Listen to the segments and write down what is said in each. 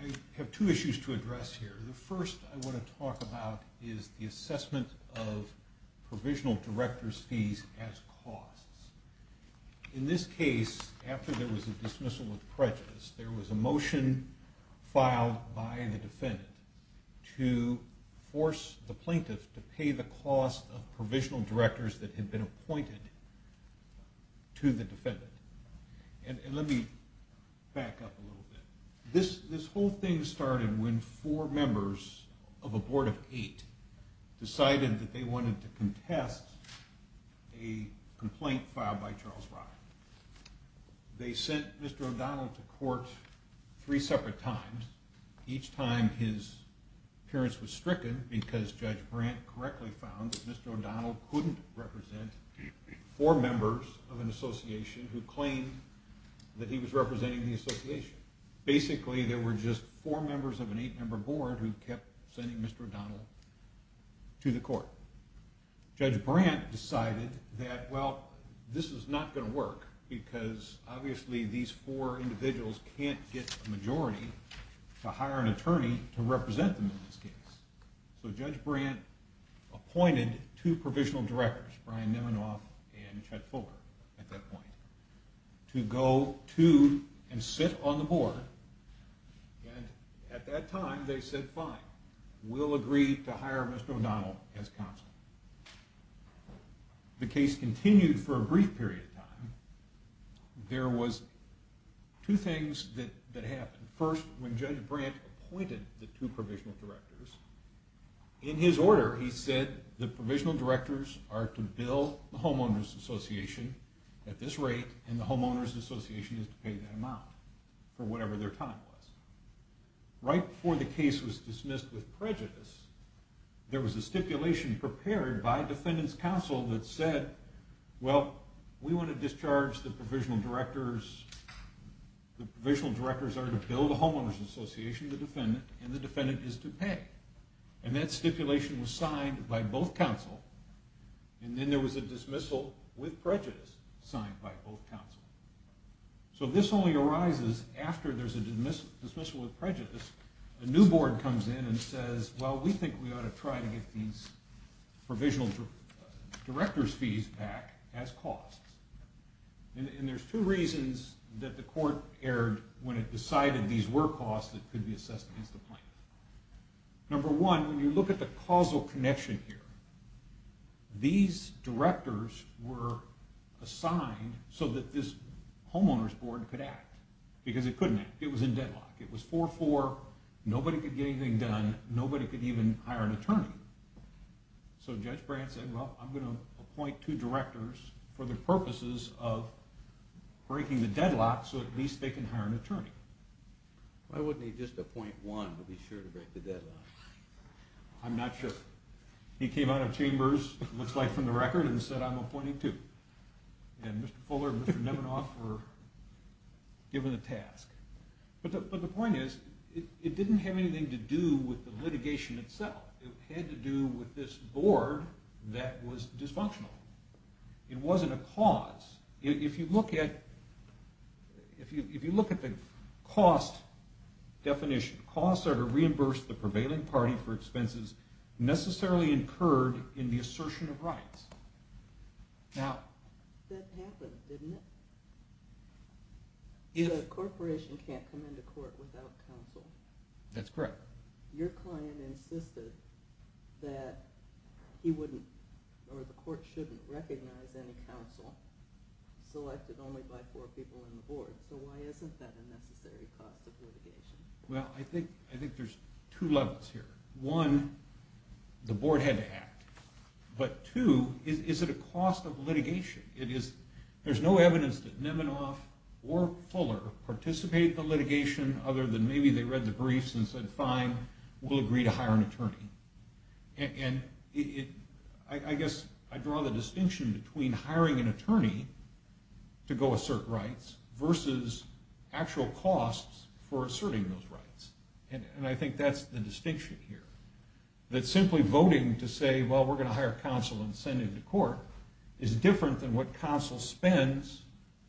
I have two issues to address here. The first I want to talk about is the assessment of fees as costs. In this case, after there was a dismissal of prejudice, there was a motion filed by the defendant to force the plaintiff to pay the cost of provisional directors that had been appointed to the defendant. And let me back up a little bit. This whole thing started when four members of a board of eight decided that they wanted to contest a complaint filed by Charles Ryan. They sent Mr. O'Donnell to court three separate times. Each time his appearance was stricken because Judge Brandt correctly found that Mr. O'Donnell couldn't represent four members of an association who claimed that he was representing the association. Basically, there were just four members of an eight member board who kept sending Mr. O'Donnell to the court. Judge Brandt decided that, well, this is not going to work because obviously these four provisional directors, Brian Neminoff and Chet Fuller, at that point, to go to and sit on the board and at that time they said fine, we'll agree to hire Mr. O'Donnell as counsel. The case continued for a brief period of time. There were two things that happened. First, when Judge Brandt appointed the two provisional directors, in his order he said the provisional directors are to bill the homeowners association at this rate and the homeowners association is to pay that amount for whatever their time was. Right before the case was dismissed with prejudice, there was a stipulation prepared by the homeowners association, the defendant, and the defendant is to pay. That stipulation was signed by both counsel and then there was a dismissal with prejudice signed by both counsel. So this only arises after there's a dismissal with prejudice. A new board comes in and says, well, we think we ought to try to get these provisional directors fees back as costs. And there's two reasons that the court erred when it decided these were costs that could be assessed against the plaintiff. Number one, when you look at the causal connection here, these directors were assigned so that this homeowners board could act because it couldn't It was 4-4, nobody could get anything done, nobody could even hire an attorney. So Judge Brandt said, well, I'm going to appoint two directors for the purposes of breaking the deadlock so at least they can hire an attorney. Why wouldn't he just appoint one to be sure to break the deadlock? I'm not sure. He came out of chambers, looks like from the But the point is, it didn't have anything to do with the litigation itself. It had to do with this board that was dysfunctional. It wasn't a cause. If you look at the cost definition, costs are to reimburse the prevailing party for expenses necessarily incurred in the assertion of rights. Now, that happened, didn't it? The corporation can't come into court without counsel. That's correct. Your client insisted that the court shouldn't recognize any counsel selected only by four people in the board. So why isn't that a necessary cost of litigation? Well, I think there's two levels here. One, the board had to act. But two, is it a cost of litigation? There's no evidence that costs for asserting those rights. And I think that's the distinction here. That simply voting to say, well, we're going to hire counsel and send him to court is different than what counsel spends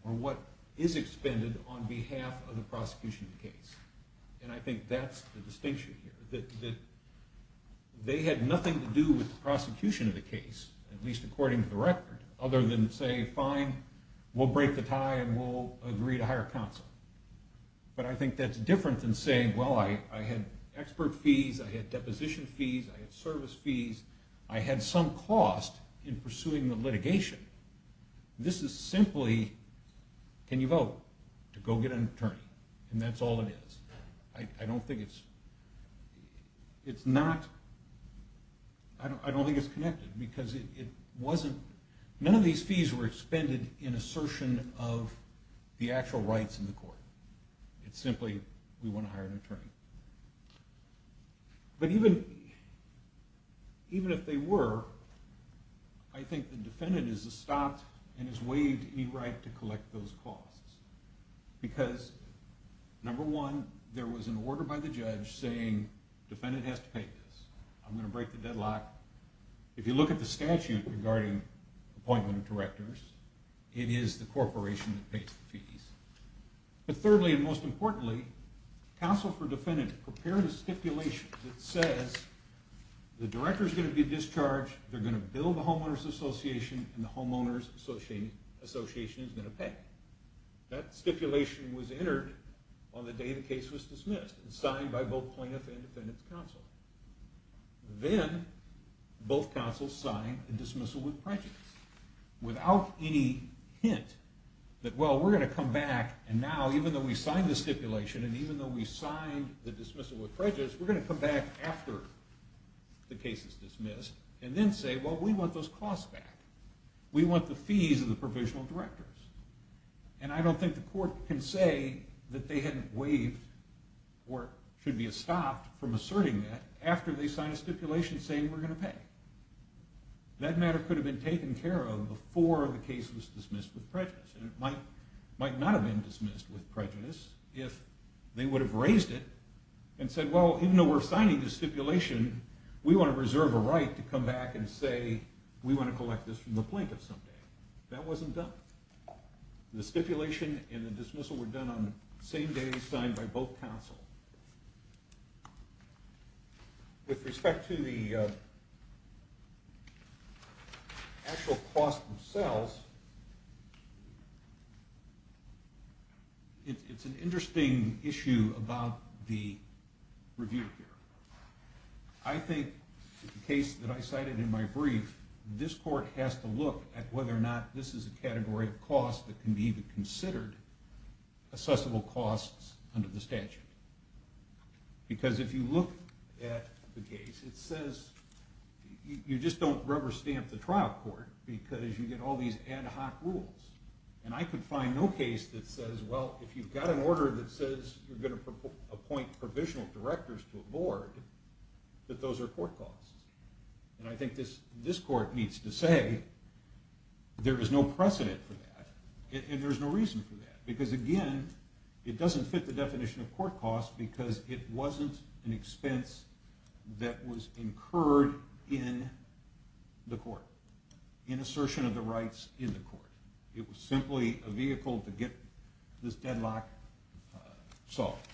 or what is expended on behalf of the prosecution of the case. And I think that's the distinction here. That they had nothing to do with the prosecution of the case, at least according to the record, other than say, fine, we'll break the tie and we'll agree to hire counsel. But I think that's different than saying, well, I had expert fees, I had deposition fees, I had service fees. None of these fees were expended in assertion of the actual rights in the court. It's simply, we want to hire an attorney. But even if they were, I think the defendant is stopped and is waived any right to collect those costs. Because, number one, there was an order by the judge saying, defendant has to pay this. I'm going to break the deadlock. If you look at the statute regarding appointment of directors, it is the corporation that pays the fees. But thirdly and most importantly, counsel for defendant prepared a stipulation that says the director is going to be paid what the homeowners association is going to pay. That stipulation was entered on the day the case was dismissed and signed by both plaintiff and defendant's counsel. Then both counsel signed the dismissal with prejudice. Without any hint that, well, we're going to come back and now, even though we signed the stipulation and even though we signed the dismissal with prejudice, we're going to come back after the case is dismissed and then say, well, we want those costs back. We want the fees of the provisional directors. And I don't think the court can say that they hadn't waived or should be stopped from asserting that after they signed a stipulation saying we're going to pay. That matter could have been taken care of before the case was dismissed with prejudice. It might not have been dismissed with prejudice if they would have raised it and said, well, even though we're signing the stipulation, we want to reserve a right to come back and say we want to collect this from the plaintiff some day. That wasn't done. The stipulation and the dismissal were done on the same day as signed by both counsel. With respect to the actual costs themselves, it's an interesting issue about the review here. I think the case that I cited in my brief, this court has to look at whether or not this is a category of costs that can be considered assessable costs under the statute. Because if you look at the case, it says you just don't rubber stamp the trial court because you get all these ad hoc rules. And I could find no case that says, well, if you've got an order that says you're going to appoint provisional directors to a board, that those are court costs. And I think this court needs to say there is no precedent for that and there's no reason for that. Because again, it doesn't fit the definition of court costs because it wasn't an expense that was incurred in the court, an assertion of the rights in the court. It was simply a vehicle to get this deadlock solved.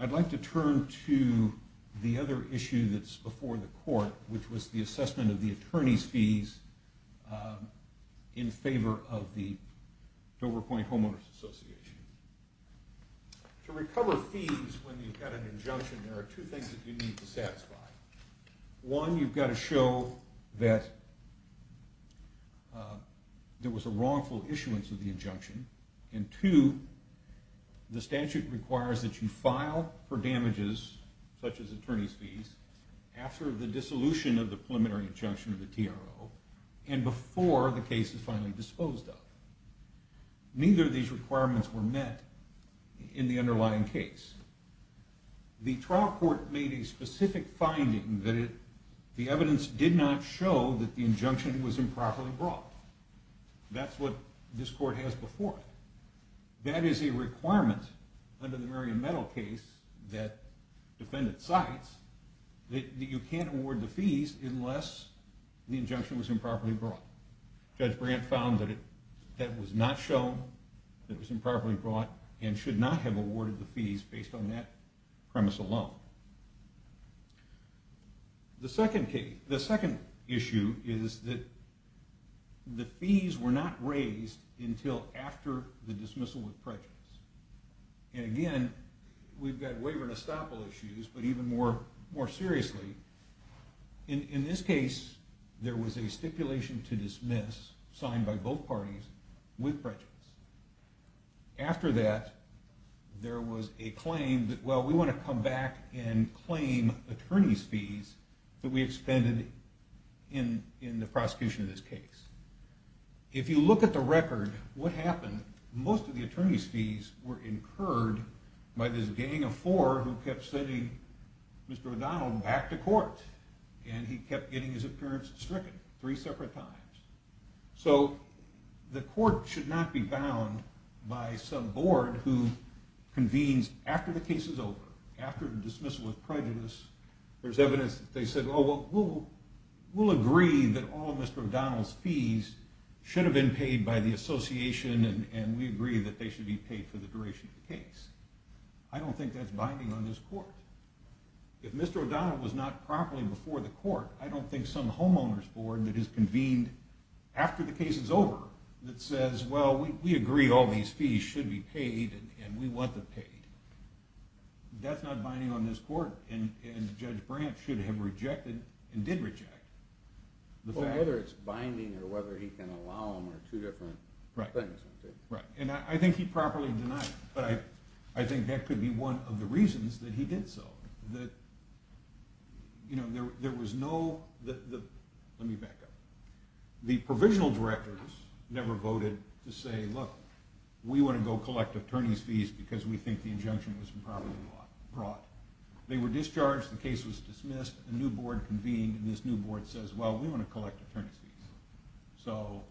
I'd like to turn to the other issue that's before the court, which was the assessment of the attorney's fees in favor of the Dover Point Homeowners Association. To recover fees when you've got an injunction, there are two things that you need to satisfy. One, you've got to show that there was a wrongful issuance of the injunction. And two, the statute requires that you file for damages such as attorney's fees after the dissolution of the preliminary injunction of the TRO and before the case is finally disposed of. Neither of these requirements were met in the underlying case. The trial court made a specific finding that the evidence did not show that the injunction was improperly brought. That's what this court has before it. That is a requirement under the Merriam-Meadow case that defendant cites that you can't award the fees unless the injunction was improperly brought. Judge Brandt found that it was not shown that it was improperly brought and should not have awarded the fees based on that premise alone. The second issue is that the fees were not raised until after the dismissal with prejudice. And again, we've got waiver and estoppel issues, but even more seriously, in this case there was a stipulation to dismiss signed by both parties with prejudice. After that, there was a claim that we want to come back and claim attorney's fees that we expended in the prosecution of this case. If you look at the record, most of the attorney's fees were incurred by this gang of four who kept sending Mr. O'Donnell back to court and he kept getting his appearance stricken three separate times. So the court should not be bound by some board who convenes after the case is over, after the dismissal with prejudice, there's evidence that they said, oh, we'll agree that all Mr. O'Donnell's fees should have been paid by the association and we agree that they should be paid for the duration of the case. I don't think that's binding on this court. If Mr. O'Donnell was not properly before the court, I don't think some homeowner's board that has convened after the case is over that says, well, we agree all these fees should be paid and we want them paid, that's not binding on this court and Judge Brandt should have rejected and did reject the fact… Right. And I think he properly denied it, but I think that could be one of the reasons that he did so. There was no, let me back up, the provisional directors never voted to say, look, we want to go collect attorney's fees because we think the injunction was improperly brought. They were discharged, the case was dismissed, a new board convened, and this new board says, well, we want to collect attorney's fees, so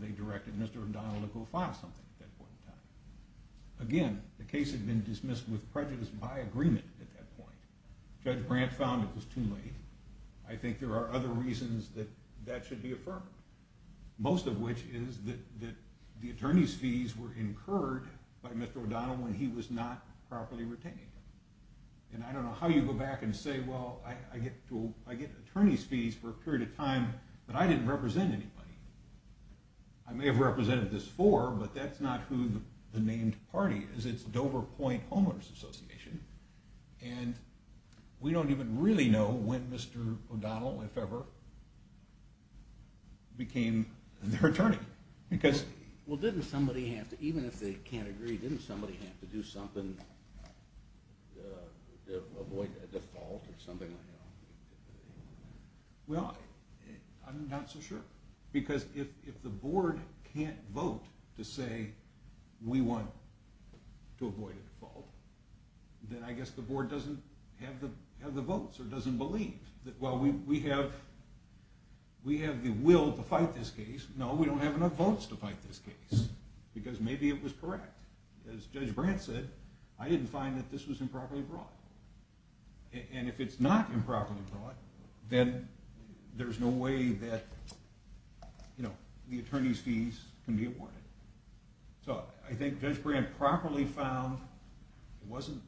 they directed Mr. O'Donnell to go file something at that point in time. Again, the case had been dismissed with prejudice by agreement at that point. Judge Brandt found it was too late. I think there are other reasons that that should be affirmed, most of which is that the attorney's fees were incurred by Mr. O'Donnell when he was not properly retained. And I don't know how you go back and say, well, I get attorney's fees for a period of time, but I didn't represent anybody. I may have represented this before, but that's not who the named party is. It's Dover Point Homeowners Association, and we don't even really know when Mr. O'Donnell, if ever, became their attorney. Well, even if they can't agree, didn't somebody have to do something to avoid a default or something like that? I don't have votes to fight this case, because maybe it was correct. As Judge Brandt said, I didn't find that this was improperly brought. And if it's not improperly brought, then there's no way that the attorney's fees can be awarded. So I think Judge Brandt properly found it wasn't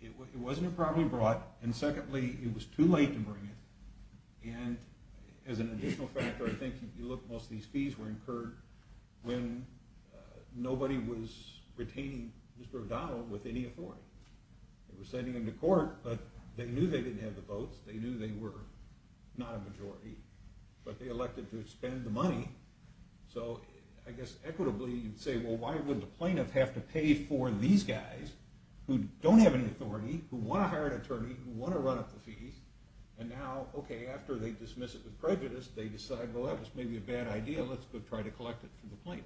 improperly brought, and secondly, it was too late to bring it. And as an additional factor, I think most of these fees were incurred when nobody was retaining Mr. O'Donnell with any authority. They were sending him to court, but they knew they didn't have the votes. They knew they were not a majority, but they elected to spend the money. So I guess equitably, you'd say, well, why would the plaintiff have to pay for these guys who don't have any authority, who want to hire an attorney, who want to run up the fees, and now, okay, after they dismiss it with prejudice, they decide, well, that was maybe a bad idea, let's go try to collect it from the plaintiff.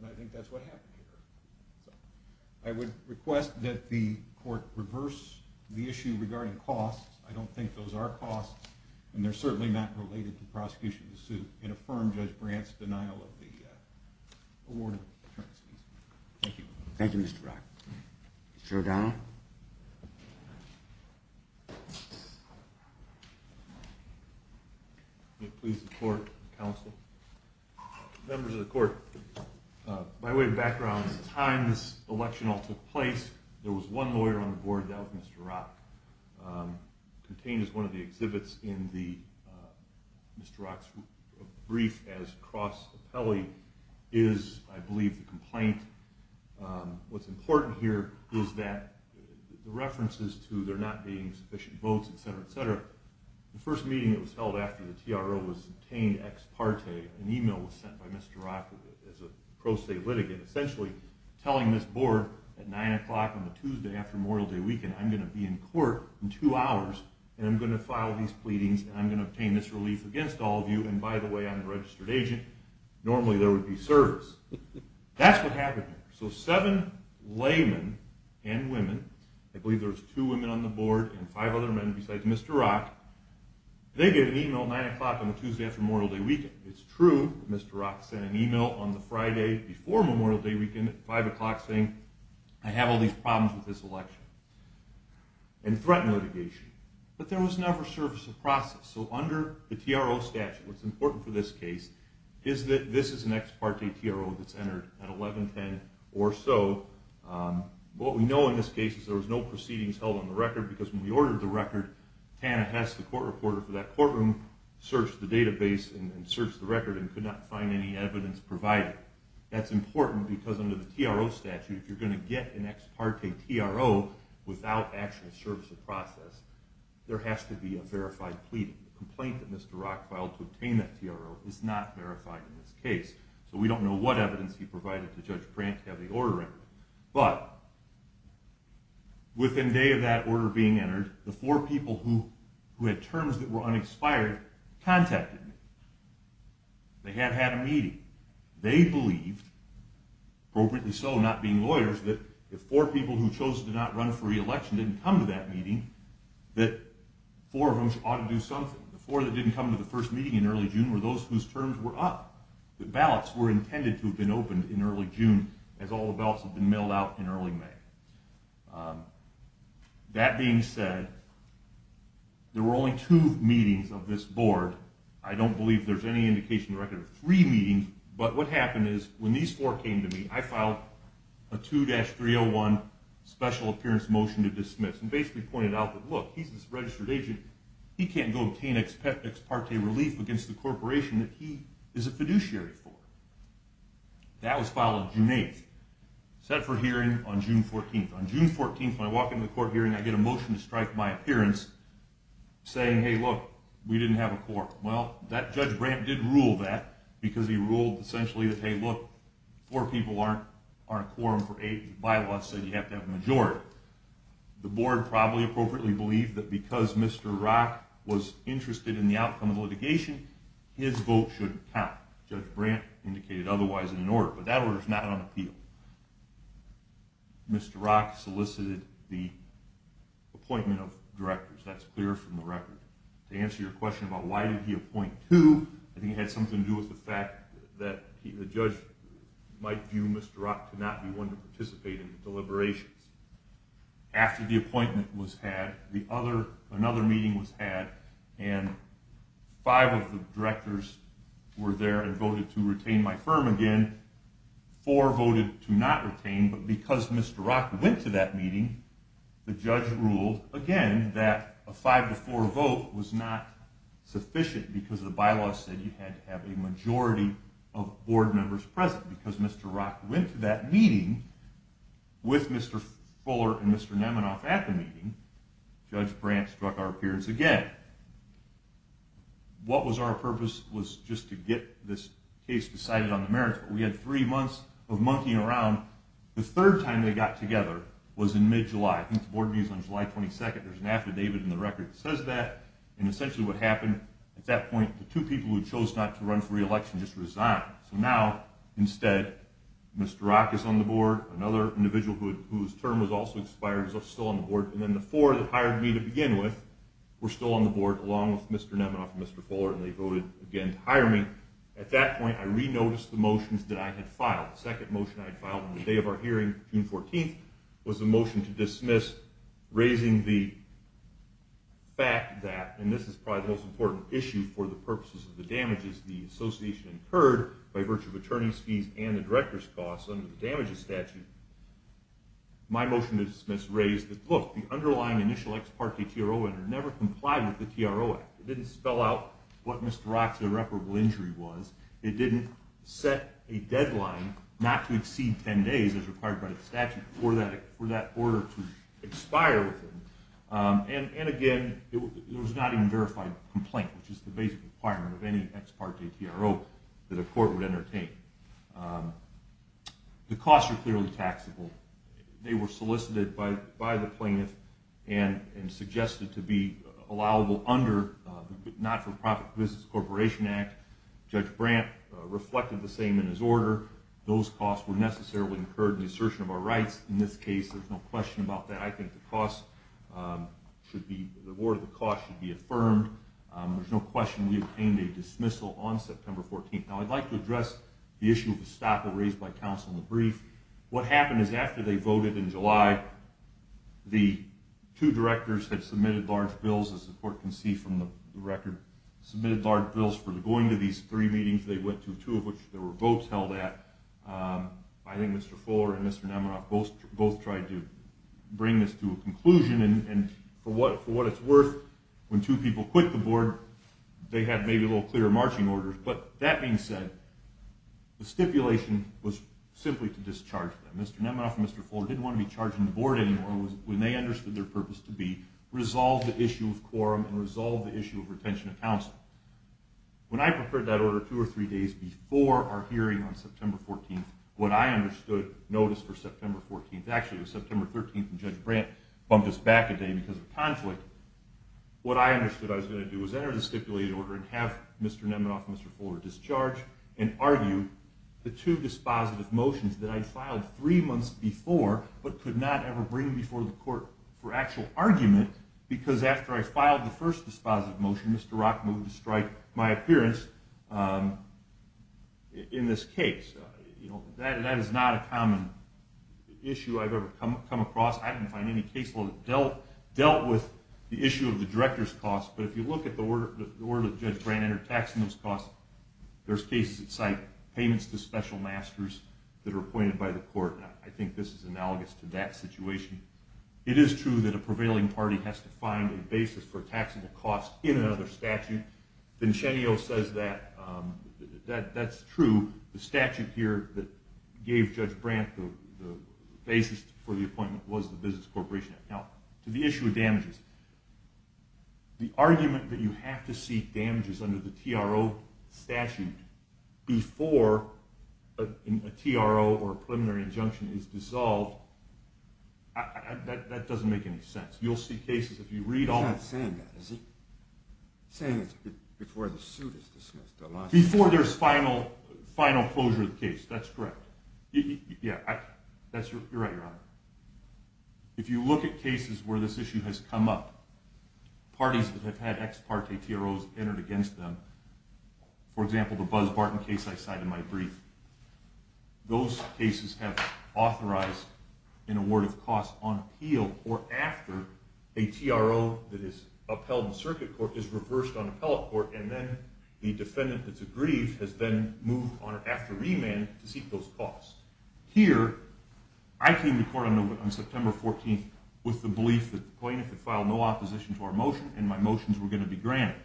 And I think that's what happened here. I would request that the court reverse the issue regarding costs. I don't think those are costs, and they're certainly not related to prosecution of the suit and affirm Judge Brandt's denial of the award of attorney's fees. Thank you. Thank you, Mr. Rock. Mr. O'Donnell? May it please the court and counsel. Members of the court, by way of background, at the time this election all took place, there was one lawyer on the board, that was Mr. Rock. Contained as one of the exhibits in Mr. Rock's brief as cross appellee is, I believe, the complaint. What's important here is that the references to there not being sufficient votes, etc., etc., the first meeting that was held after the TRO was obtained ex parte, an email was sent by Mr. Rock as a pro se litigant, essentially telling this board at 9 o'clock on the Tuesday after Memorial Day weekend, I'm going to be in court in two hours, and I'm going to file these pleadings, and I'm going to obtain this relief against all of you, and by the way, I'm a registered agent. Normally there would be service. That's what happened here. So seven laymen and women, I believe there was two women on the board and five other men besides Mr. Rock, they get an email at 9 o'clock on the Tuesday after Memorial Day weekend. It's true, Mr. Rock sent an email on the Friday before Memorial Day weekend at 5 o'clock saying, I have all these problems with this election, and threatened litigation, but there was never service or process, so under the TRO statute, what's important for this case is that this is an ex parte TRO that's entered at 1110 or so. What we know in this case is there was no proceedings held on the record because when we ordered the record, Tana Hess, the court reporter for that courtroom, searched the database and searched the record and could not find any evidence provided. That's important because under the TRO statute, if you're going to get an ex parte TRO without actual service or process, there has to be a verified pleading. The complaint that Mr. Rock filed to obtain that TRO is not verified in this case, so we don't know what evidence he provided to Judge Prant to have the order entered. But within day of that order being entered, the four people who had terms that were unexpired contacted me. They had had a meeting. They believed, appropriately so not being lawyers, that if four people who chose to not run for re-election didn't come to that meeting, that four of them ought to do something. The four that didn't come to the first meeting in early June were those whose terms were up. The ballots were intended to have been opened in early June as all the ballots had been mailed out in early May. That being said, there were only two meetings of this board. I don't believe there's any indication of a record of three meetings. But what happened is when these four came to me, I filed a 2-301 special appearance motion to dismiss and basically pointed out that, look, he's this registered agent. He can't go obtain ex parte relief against the corporation that he is a fiduciary for. That was filed on June 8th, set for hearing on June 14th. On June 14th, when I walk into the court hearing, I get a motion to strike my appearance saying, hey, look, we didn't have a quorum. Well, that Judge Prant did rule that because he ruled essentially that, hey, look, four people aren't a quorum for eight. Bylaws said you have to have a majority. The board probably appropriately believed that because Mr. Rock was interested in the outcome of litigation, his vote shouldn't count. Judge Brant indicated otherwise in an order, but that order is not on appeal. Mr. Rock solicited the appointment of directors. That's clear from the record. To answer your question about why did he appoint two, I think it had something to do with the fact that the judge might view Mr. Rock to not be one to participate in the deliberations. After the appointment was had, another meeting was had, and five of the directors were there and voted to retain my firm again. Four voted to not retain, but because Mr. Rock went to that meeting, the judge ruled again that a five-to-four vote was not sufficient because the bylaws said you had to have a majority of board members present. Because Mr. Rock went to that meeting with Mr. Fuller and Mr. Neminoff at the meeting, Judge Brant struck our appearance again. What was our purpose was just to get this case decided on the merits, but we had three months of monkeying around. The third time they got together was in mid-July. I think the board knew it was on July 22nd. There's an affidavit in the record that says that. Essentially what happened at that point, the two people who chose not to run for re-election just resigned. Now, instead, Mr. Rock is on the board. Another individual whose term was also expired is still on the board. Then the four that hired me to begin with were still on the board, along with Mr. Neminoff and Mr. Fuller, and they voted again to hire me. At that point, I re-noticed the motions that I had filed. The second motion I had filed on the day of our hearing, June 14th, was a motion to dismiss, raising the fact that, and this is probably the most important issue for the purposes of the damages the association incurred by virtue of attorney's fees and the director's costs under the damages statute. My motion to dismiss raised that, look, the underlying initial ex parte TRO never complied with the TRO Act. It didn't spell out what Mr. Rock's irreparable injury was. It didn't set a deadline not to exceed 10 days as required by the statute for that order to expire. And again, it was not even a verified complaint, which is the basic requirement of any ex parte TRO that a court would entertain. The costs are clearly taxable. They were solicited by the plaintiff and suggested to be allowable under the Not-for-Profit Business Corporation Act. Judge Brandt reflected the same in his order. Those costs were necessarily incurred in the assertion of our rights in this case. There's no question about that. I think the award of the costs should be affirmed. There's no question we obtained a dismissal on September 14th. Now I'd like to address the issue of estoppel raised by counsel in the brief. What happened is after they voted in July, the two directors had submitted large bills, as the court can see from the record, submitted large bills for going to these three meetings they went to, two of which there were votes held at. I think Mr. Fuller and Mr. Neminoff both tried to bring this to a conclusion, and for what it's worth, when two people quit the board, they had maybe a little clearer marching orders. But that being said, the stipulation was simply to discharge them. Mr. Neminoff and Mr. Fuller didn't want to be charging the board anymore when they understood their purpose to be resolve the issue of quorum and resolve the issue of retention of counsel. When I prepared that order two or three days before our hearing on September 14th, what I understood, notice for September 14th, actually it was September 13th when Judge Brandt bumped us back a day because of conflict, what I understood I was going to do was enter the stipulated order and have Mr. Neminoff and Mr. Fuller discharge and argue the two dispositive motions that I'd filed three months before but could not ever bring before the court for actual argument because after I filed the first dispositive motion, Mr. Rock moved to strike my appearance in this case. That is not a common issue I've ever come across. I didn't find any case that dealt with the issue of the director's costs, but if you look at the order that Judge Brandt entered taxing those costs, there's cases that cite payments to special masters that are appointed by the court. I think this is analogous to that That's true. The statute here that gave Judge Brandt the basis for the appointment was the Business Corporation Act. Now, to the issue of damages, the argument that you have to see damages under the TRO statute before a TRO or preliminary injunction is dissolved, that doesn't make any sense. You'll see cases if you read all the cases that I cite in my brief, those cases have authorized an award of costs on appeal or after a TRO that is dismissed. circuit court is reversed on appellate court and then the defendant that's aggrieved has been moved on after remand to seek those costs. Here, I came to court on September 14th with the belief that the plaintiff had filed no opposition to our motion and my motions were going to be granted.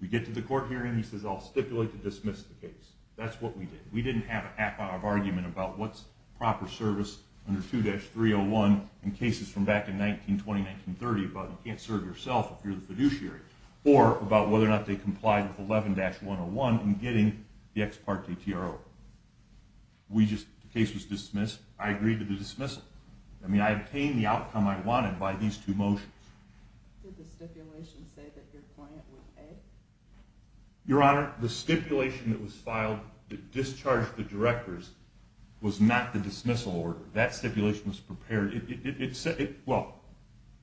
We get to the court hearing, he says I'll stipulate to dismiss the case. That's what we did. We didn't have an argument about what's proper service under 2-301 in cases from back in 1920-1930 about you can't serve yourself if you're the fiduciary or about whether or not they complied with 11-101 in getting the ex parte TRO. We just, the case was filed that discharged the directors was not the dismissal order. That stipulation was prepared.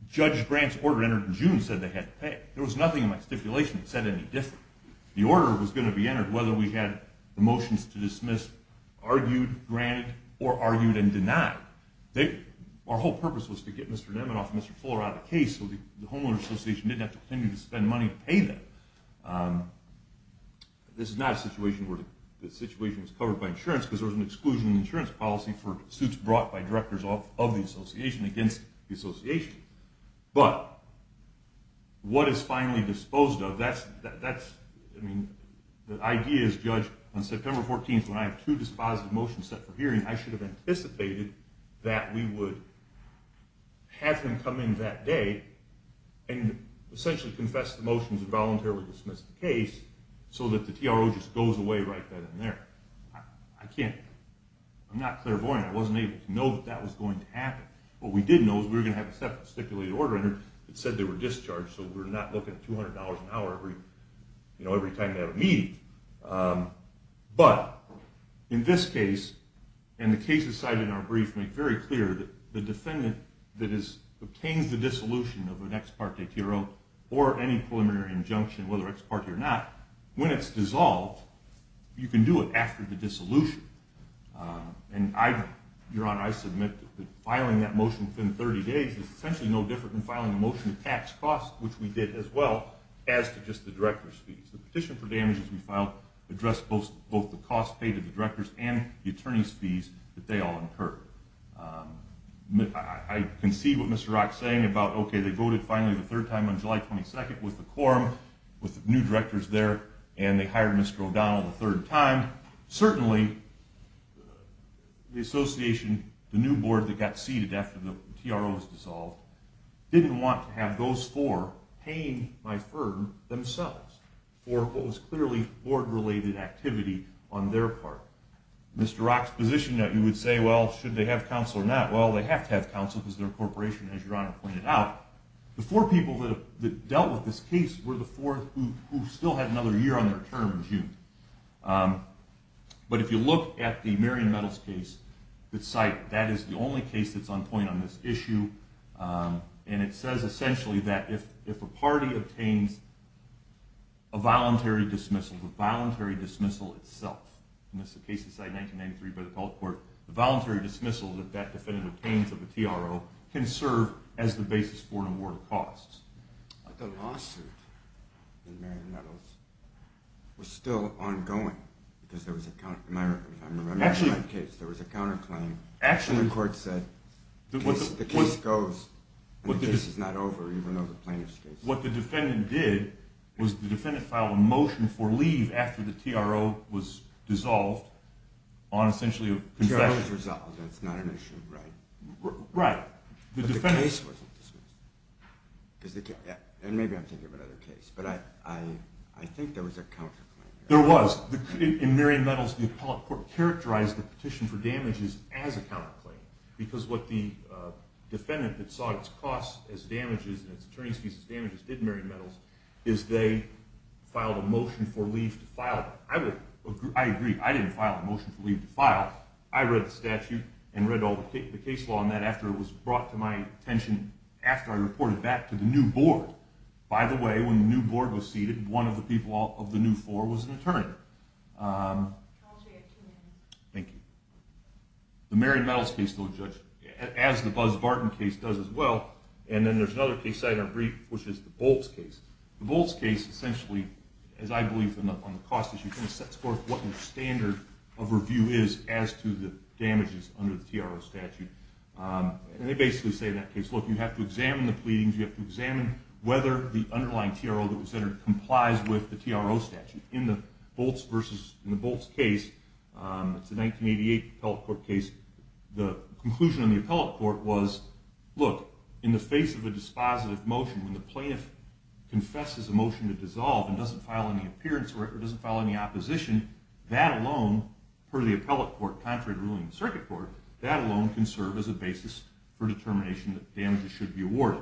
Judge Grant's order entered in June said they had to pay. There was nothing in my stipulation that said any different. The order was going to be entered whether we had the motions to dismiss argued, granted, or argued and this is not a situation where the situation was covered by insurance because there was an exclusion of insurance policy for suits brought by directors of the association against the association. But, what is finally disposed of, that's, I mean, the idea is Judge, on September 14th when I have two dispositive motions set for hearing, I should have anticipated that we would have him come in that day and essentially confess the motions and voluntarily dismiss the case so that the TRO just goes away right then and there. I can't, I'm not clairvoyant. I wasn't able to know that that was going to happen. What we did know is we were going to have a stipulated order and it said they were discharged so we're not looking at $200 an hour every time they have a meeting. But, in this case, and the cases cited in our brief make very clear that the defendant that obtains the dissolution of an ex parte TRO or any preliminary injunction, whether ex parte or not, when it's essentially no different than filing a motion to tax costs, which we did as well, as to just the director's fees. The petition for damages we filed addressed both the costs paid to the directors and the attorney's fees that they all incurred. I can see what Mr. Rock is saying about, okay, they voted finally the third time on July 22nd with the quorum, with the new directors there, and they hired Mr. O'Donnell the third time. Certainly, the association, the new board that got seated after the TRO was dissolved, didn't want to have those four paying my firm themselves for what was clearly board-related activity on their part. Mr. Rock's position that you would say, well, should they have counsel or not? Well, they have to have counsel because they're a corporation, as your Honor pointed out. The four people that dealt with this case were the four who still had another year on their term in June. But if you look at the Marion Metals case that's cited, that is the only case that's on point on this issue, and it says essentially that if a party obtains a voluntary dismissal, the voluntary dismissal itself, and this is a case that's cited in 1993 by the court, the voluntary dismissal that that defendant obtains of the TRO can serve as the basis for an award of costs. But the lawsuit in Marion Metals was still ongoing, because there was a counterclaim, and the court said the case goes, and the case is not over, even though the plaintiff's case is. What the defendant did was the defendant filed a motion for leave after the TRO was dissolved on essentially a concession. The TRO was resolved. That's not an issue, right? Right. But the case wasn't dismissed. And maybe I'm thinking of another case, but I think there was a counterclaim. There was. In Marion Metals, the appellate court characterized the petition for damages as a counterclaim, because what the defendant that saw its costs as damages and its attorney's fees as damages did in Marion Metals is they filed a motion for leave to file. I agree. I didn't file a motion for leave to file. I read the statute and read all the case law on that after it was brought to my new board. By the way, when the new board was seated, one of the people of the new floor was an attorney. Thank you. The Marion Metals case, though, Judge, as the Buzz Barton case does as well, and then there's another case I didn't read, which is the Bolts case. The Bolts case essentially, as I believe on the cost issue, sets forth what the standard of review is as to the damages under the TRO statute. And they basically say in that case, look, you have to examine the pleadings. You have to examine whether the underlying TRO that was entered complies with the TRO statute. In the Bolts case, it's a 1988 appellate court case, the conclusion of the appellate court was, look, in the face of a dispositive motion, when the plaintiff confesses a motion to dissolve and doesn't file any appearance or doesn't file any opposition, that alone, per the appellate court, contrary to the ruling of the circuit court, that alone can serve as a basis for determination that damages should be awarded.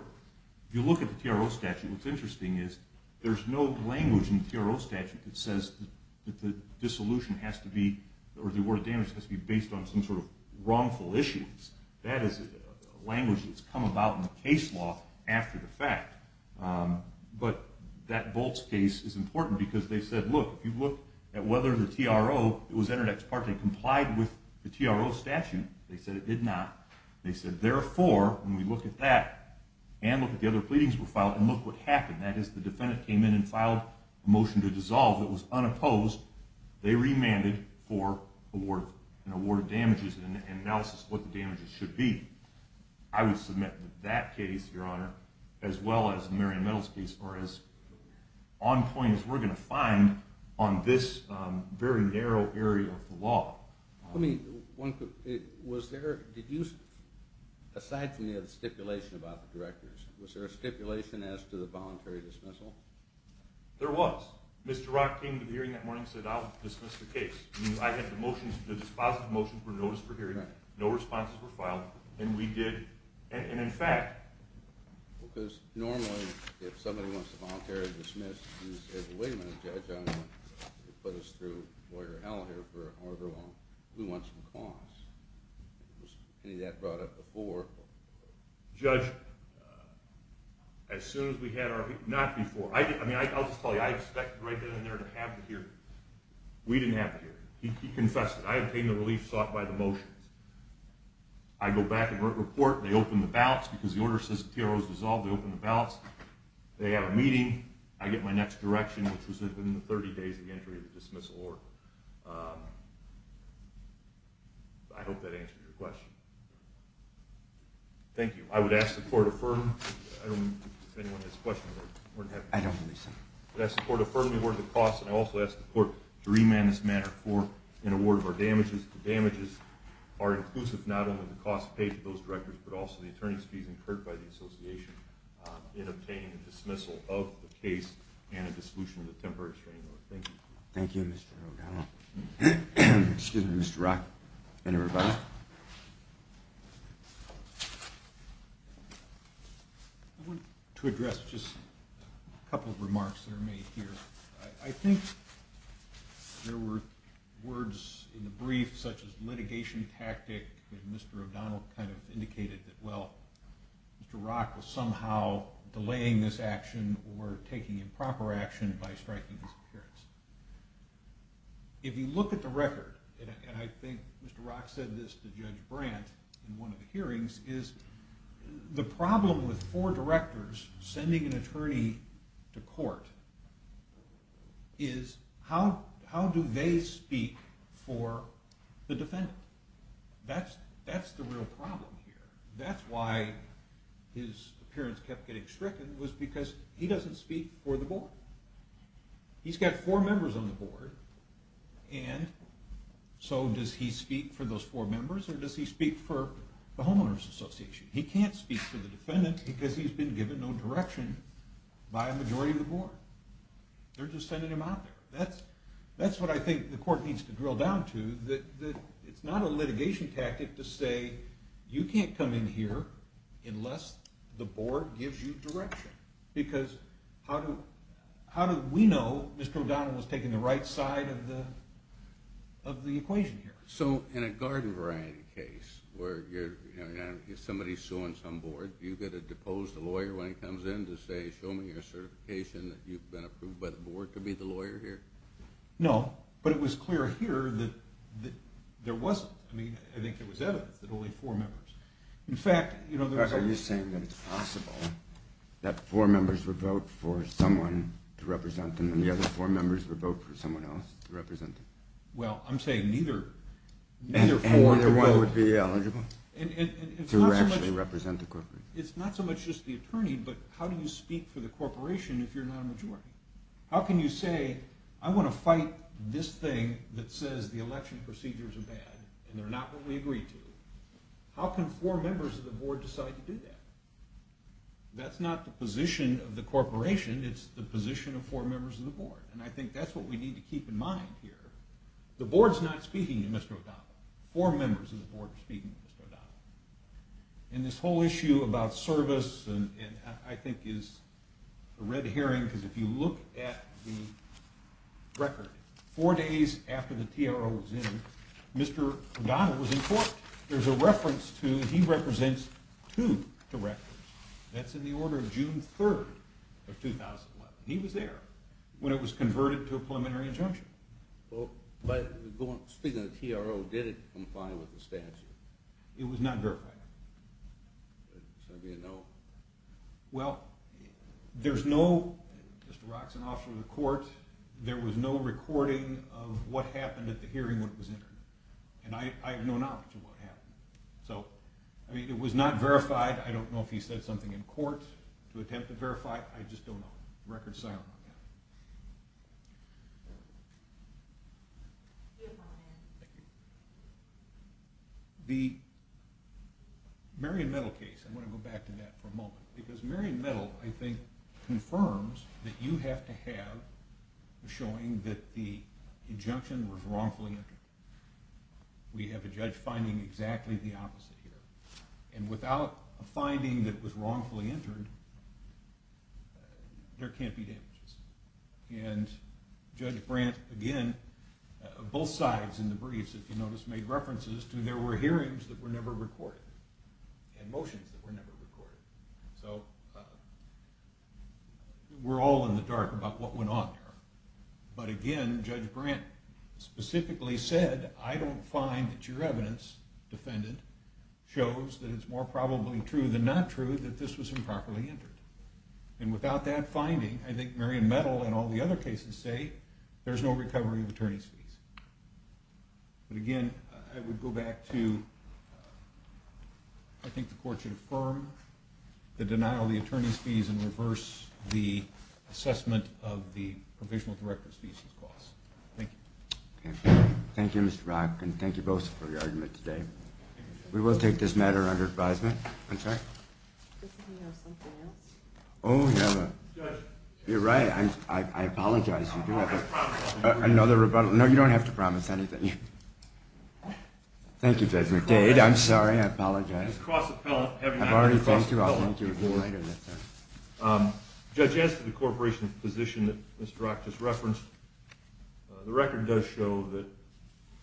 If you look at the TRO statute, what's interesting is there's no language in the TRO statute that says that the dissolution has to be, or the award of damages has to be based on some sort of wrongful issues. That is a language that's come about in the fact. But that Bolts case is important because they said, look, if you look at whether the TRO that was entered ex parte complied with the TRO statute, they said it did not. They said, therefore, when we look at that and look at the other pleadings that were filed and look what happened, that is the defendant came in and filed a motion to dissolve that was unopposed, they remanded for an award of damages and analysis of what the damages should be. I would submit that that case, your honor, as well as the Marion Meadows case, are as on point as we're going to find on this very narrow area of the law. Was there, did you, aside from the stipulation about the directors, was there a stipulation as to the voluntary dismissal? There was. Mr. Rock came to the hearing that morning and said, I'll dismiss the case. I had the motions, the dispositive motions were noticed for what he did. And in fact, because normally if somebody wants to voluntarily dismiss, he says, wait a minute, judge, I don't want to put us through lawyer hell here for however long. We want some cause. Was any of that brought up before? Judge, as soon as we had our, not before. I mean, I'll just tell you, I expected right then and there to have the hearing. We didn't have the hearing. He confessed it. I obtained the relief sought by the motions. I go back and report. They open the ballots because the order says the TRO is dissolved. They open the ballots. They have a meeting. I get my next direction, which was within the 30 days of the entry of the dismissal order. I hope that answers your question. Thank you. I would ask the court to affirm. I don't know if anyone has a question. I don't believe so. I ask the court to affirm the award of the cost. And I also ask the court to remand this matter for an award of our damages. The damages are inclusive, not only the cost paid to those directors, but also the attorney's fees incurred by the association in obtaining a dismissal of the case and a dissolution of the temporary restraining order. Thank you. Thank you, Mr. O'Donnell. Excuse me, Mr. Rock. Anybody? I want to address just a couple of remarks that are made here. I think there were words in the brief such as litigation tactic, and Mr. O'Donnell kind of indicated that, well, Mr. Rock was somehow delaying this action or taking improper action by striking his appearance. If you look at the record, and I think Mr. Rock said this to Judge Brandt in one of the hearings, is the problem with four directors sending an attorney to court is how do they speak for the defendant? That's the real problem here. That's why his appearance kept getting stricken was because he doesn't speak for the board. He's got four members on the board, and so does he speak for those four members or does he speak for the homeowners association? He can't speak for the defendant because he's been given no direction by a majority of the board. They're just sending him out there. That's what I think the court needs to drill down to, that it's not a litigation tactic to say you can't come in here unless the board gives you direction. Because how do we know Mr. O'Donnell was taking the right side of the equation here? So in a garden variety case where somebody's suing some board, do you get to depose the lawyer when he comes in to say, show me your certification that you've been approved by the board to be the lawyer here? No, but it was clear here that there wasn't. I mean, I think it was evident that only four members. Are you saying that it's possible that four members would vote for someone to represent them and the other four members would vote for someone else to represent them? Well, I'm saying neither four could vote. And neither one would be eligible to actually represent the corporation? It's not so much just the attorney, but how do you speak for the corporation if you're not a majority? How can you say, I want to fight this thing that says the election procedures are bad and they're not what we agreed to? How can four members of the board decide to do that? That's not the position of the corporation, it's the position of four members of the board. And I think that's what we need to keep in mind here. The board's not speaking to Mr. O'Donnell. Four members of the board are speaking to Mr. O'Donnell. And this whole issue about service, I think, is a red herring because if you look at the record, four days after the TRO was in, Mr. O'Donnell was in court. There's a reference to, he represents two directors. That's in the order of June 3rd of 2011. He was there when it was converted to a preliminary injunction. Speaking of the TRO, did it comply with the statute? It was not verified. So there'd be a no? Well, there's no, Mr. Rock's an officer of the court, there was no recording of what happened at the hearing when it was entered. And I have no knowledge of what happened. So, I mean, it was not verified. I don't know if he said something in court to attempt to verify. I just don't know. Record's silent on that. Thank you. The Marion Metal case, I want to go back to that for a moment. Because Marion Metal, I think, confirms that you have to have a showing that the injunction was wrongfully entered. We have a judge finding exactly the opposite here. And without a finding that was wrongfully entered, there can't be damages. And Judge Brandt, again, both sides in the briefs, if you notice, made references to there were hearings that were never recorded. And motions that were never recorded. So we're all in the dark about what went on there. But again, Judge Brandt specifically said, I don't find that your evidence, defendant, shows that it's more probably true than not true that this was improperly entered. And without that finding, I think Marion Metal and all the other cases say, there's no recovery of attorney's fees. But again, I would go back to, I think the court should affirm the denial of the attorney's fees and reverse the assessment of the provisional director's fees and costs. Thank you. Thank you, Mr. Rock. And thank you both for your argument today. We will take this matter under advisement. I'm sorry? Doesn't he have something else? Oh, yeah. Judge. You're right. I apologize. Another rebuttal. No, you don't have to promise anything. Thank you, Judge McDade. I'm sorry. I apologize. I've already thanked you. I'll thank you later. Judge, as to the corporation's position that Mr. Rock just referenced, the record does show that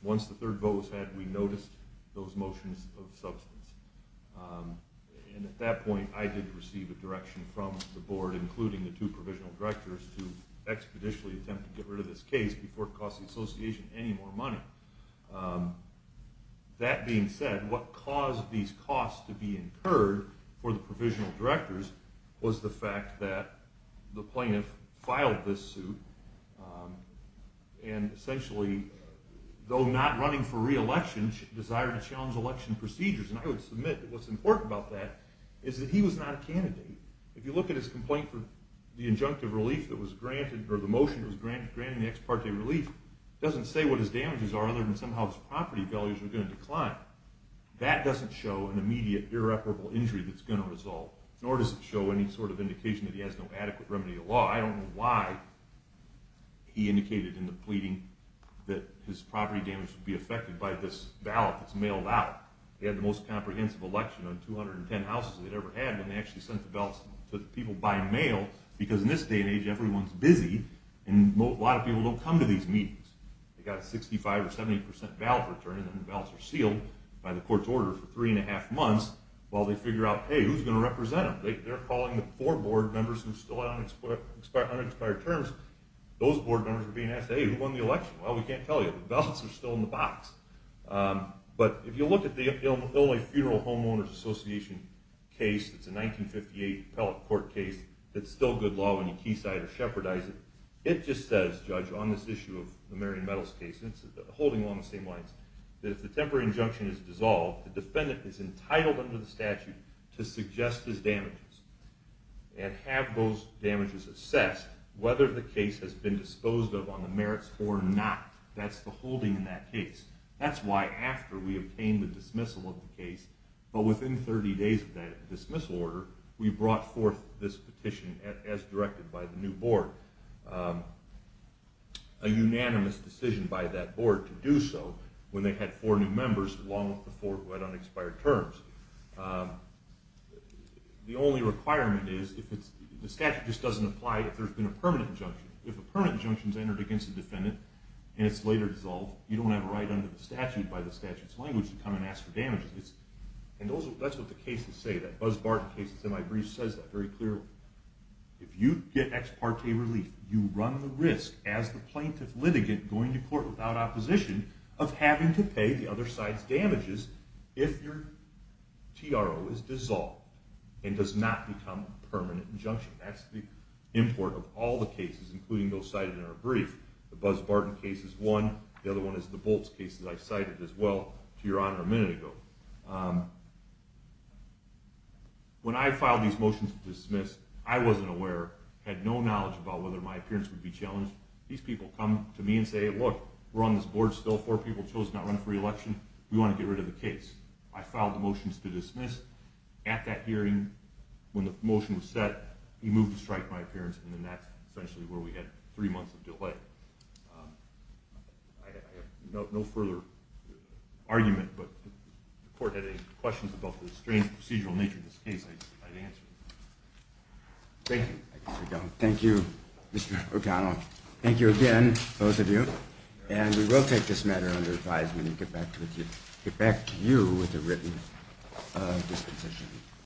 once the third vote was had, we noticed those motions of substance. And at that point, I did receive a direction from the board, including the two provisional directors, to expeditiously attempt to get rid of this case before it cost the association any more money. That being said, what caused these costs to be incurred for the provisional directors was the fact that the plaintiff filed this suit and essentially, though not running for re-election, desired to challenge election procedures. And I would submit that what's important about that is that he was not a candidate. If you look at his complaint for the injunctive relief that was granted or the motion that was granted in the ex parte relief, it doesn't say what his damages are other than somehow his property values are going to decline. That doesn't show an immediate irreparable injury that's going to result, nor does it show any sort of indication that he has no adequate remedy to law. I don't know why he indicated in the pleading that his property damage would be affected by this ballot that's mailed out. They had the most comprehensive election of 210 houses they'd ever had, and they actually sent the ballots to the people by mail because in this day and age, everyone's busy, and a lot of people don't come to these meetings. They've got a 65 or 70 percent ballot return, and then the ballots are sealed by the court's order for three and a half months while they figure out, hey, who's going to represent them? They're calling the four board members who are still on expired terms. Those board members are being asked, hey, who won the election? Well, we can't tell you. The ballots are still in the box. But if you look at the Illinois Funeral Homeowners Association case, it's a 1958 appellate court case that's still good law when you quayside or shepherdize it. It just says, Judge, on this issue of the Marion Metals case, and it's holding along the same lines, that if the temporary injunction is dissolved, the defendant is entitled under the statute to suggest his damages and have those damages assessed whether the case has been disposed of on the merits or not. That's the holding in that case. That's why after we obtain the dismissal of the case, but within 30 days of that dismissal order, we brought forth this petition as directed by the new board. A unanimous decision by that board to do so when they had four new members along with the four who had unexpired terms. The only requirement is, the statute just doesn't apply if there's been a permanent injunction. If a permanent injunction's entered against the defendant and it's later dissolved, you don't have a right under the statute by the statute's language to come and ask for damages. And that's what the cases say. That Buzz Barton case that's in my brief says that very clearly. If you get ex parte relief, you run the risk, as the plaintiff litigant going to court without opposition, of having to pay the other side's damages if your TRO is dissolved and does not become a permanent injunction. That's the import of all the cases, including those cited in our brief. The Buzz Barton case is one. The other one is the Bolts case that I cited as well, to your honor, a minute ago. When I filed these motions to dismiss, I wasn't aware, had no knowledge about whether my appearance would be challenged. These people come to me and say, look, we're on this board still, four people chose not to run for re-election, we want to get rid of the case. I filed the motions to dismiss. At that hearing, when the motion was set, he moved to strike my appearance, and that's essentially where we had three months of delay. I have no further argument, but if the court had any questions about the strange procedural nature of this case, I'd answer them. Thank you. Thank you, Mr. O'Connell. Thank you again, both of you. And we will take this matter under advisement and get back to you with a written disposition.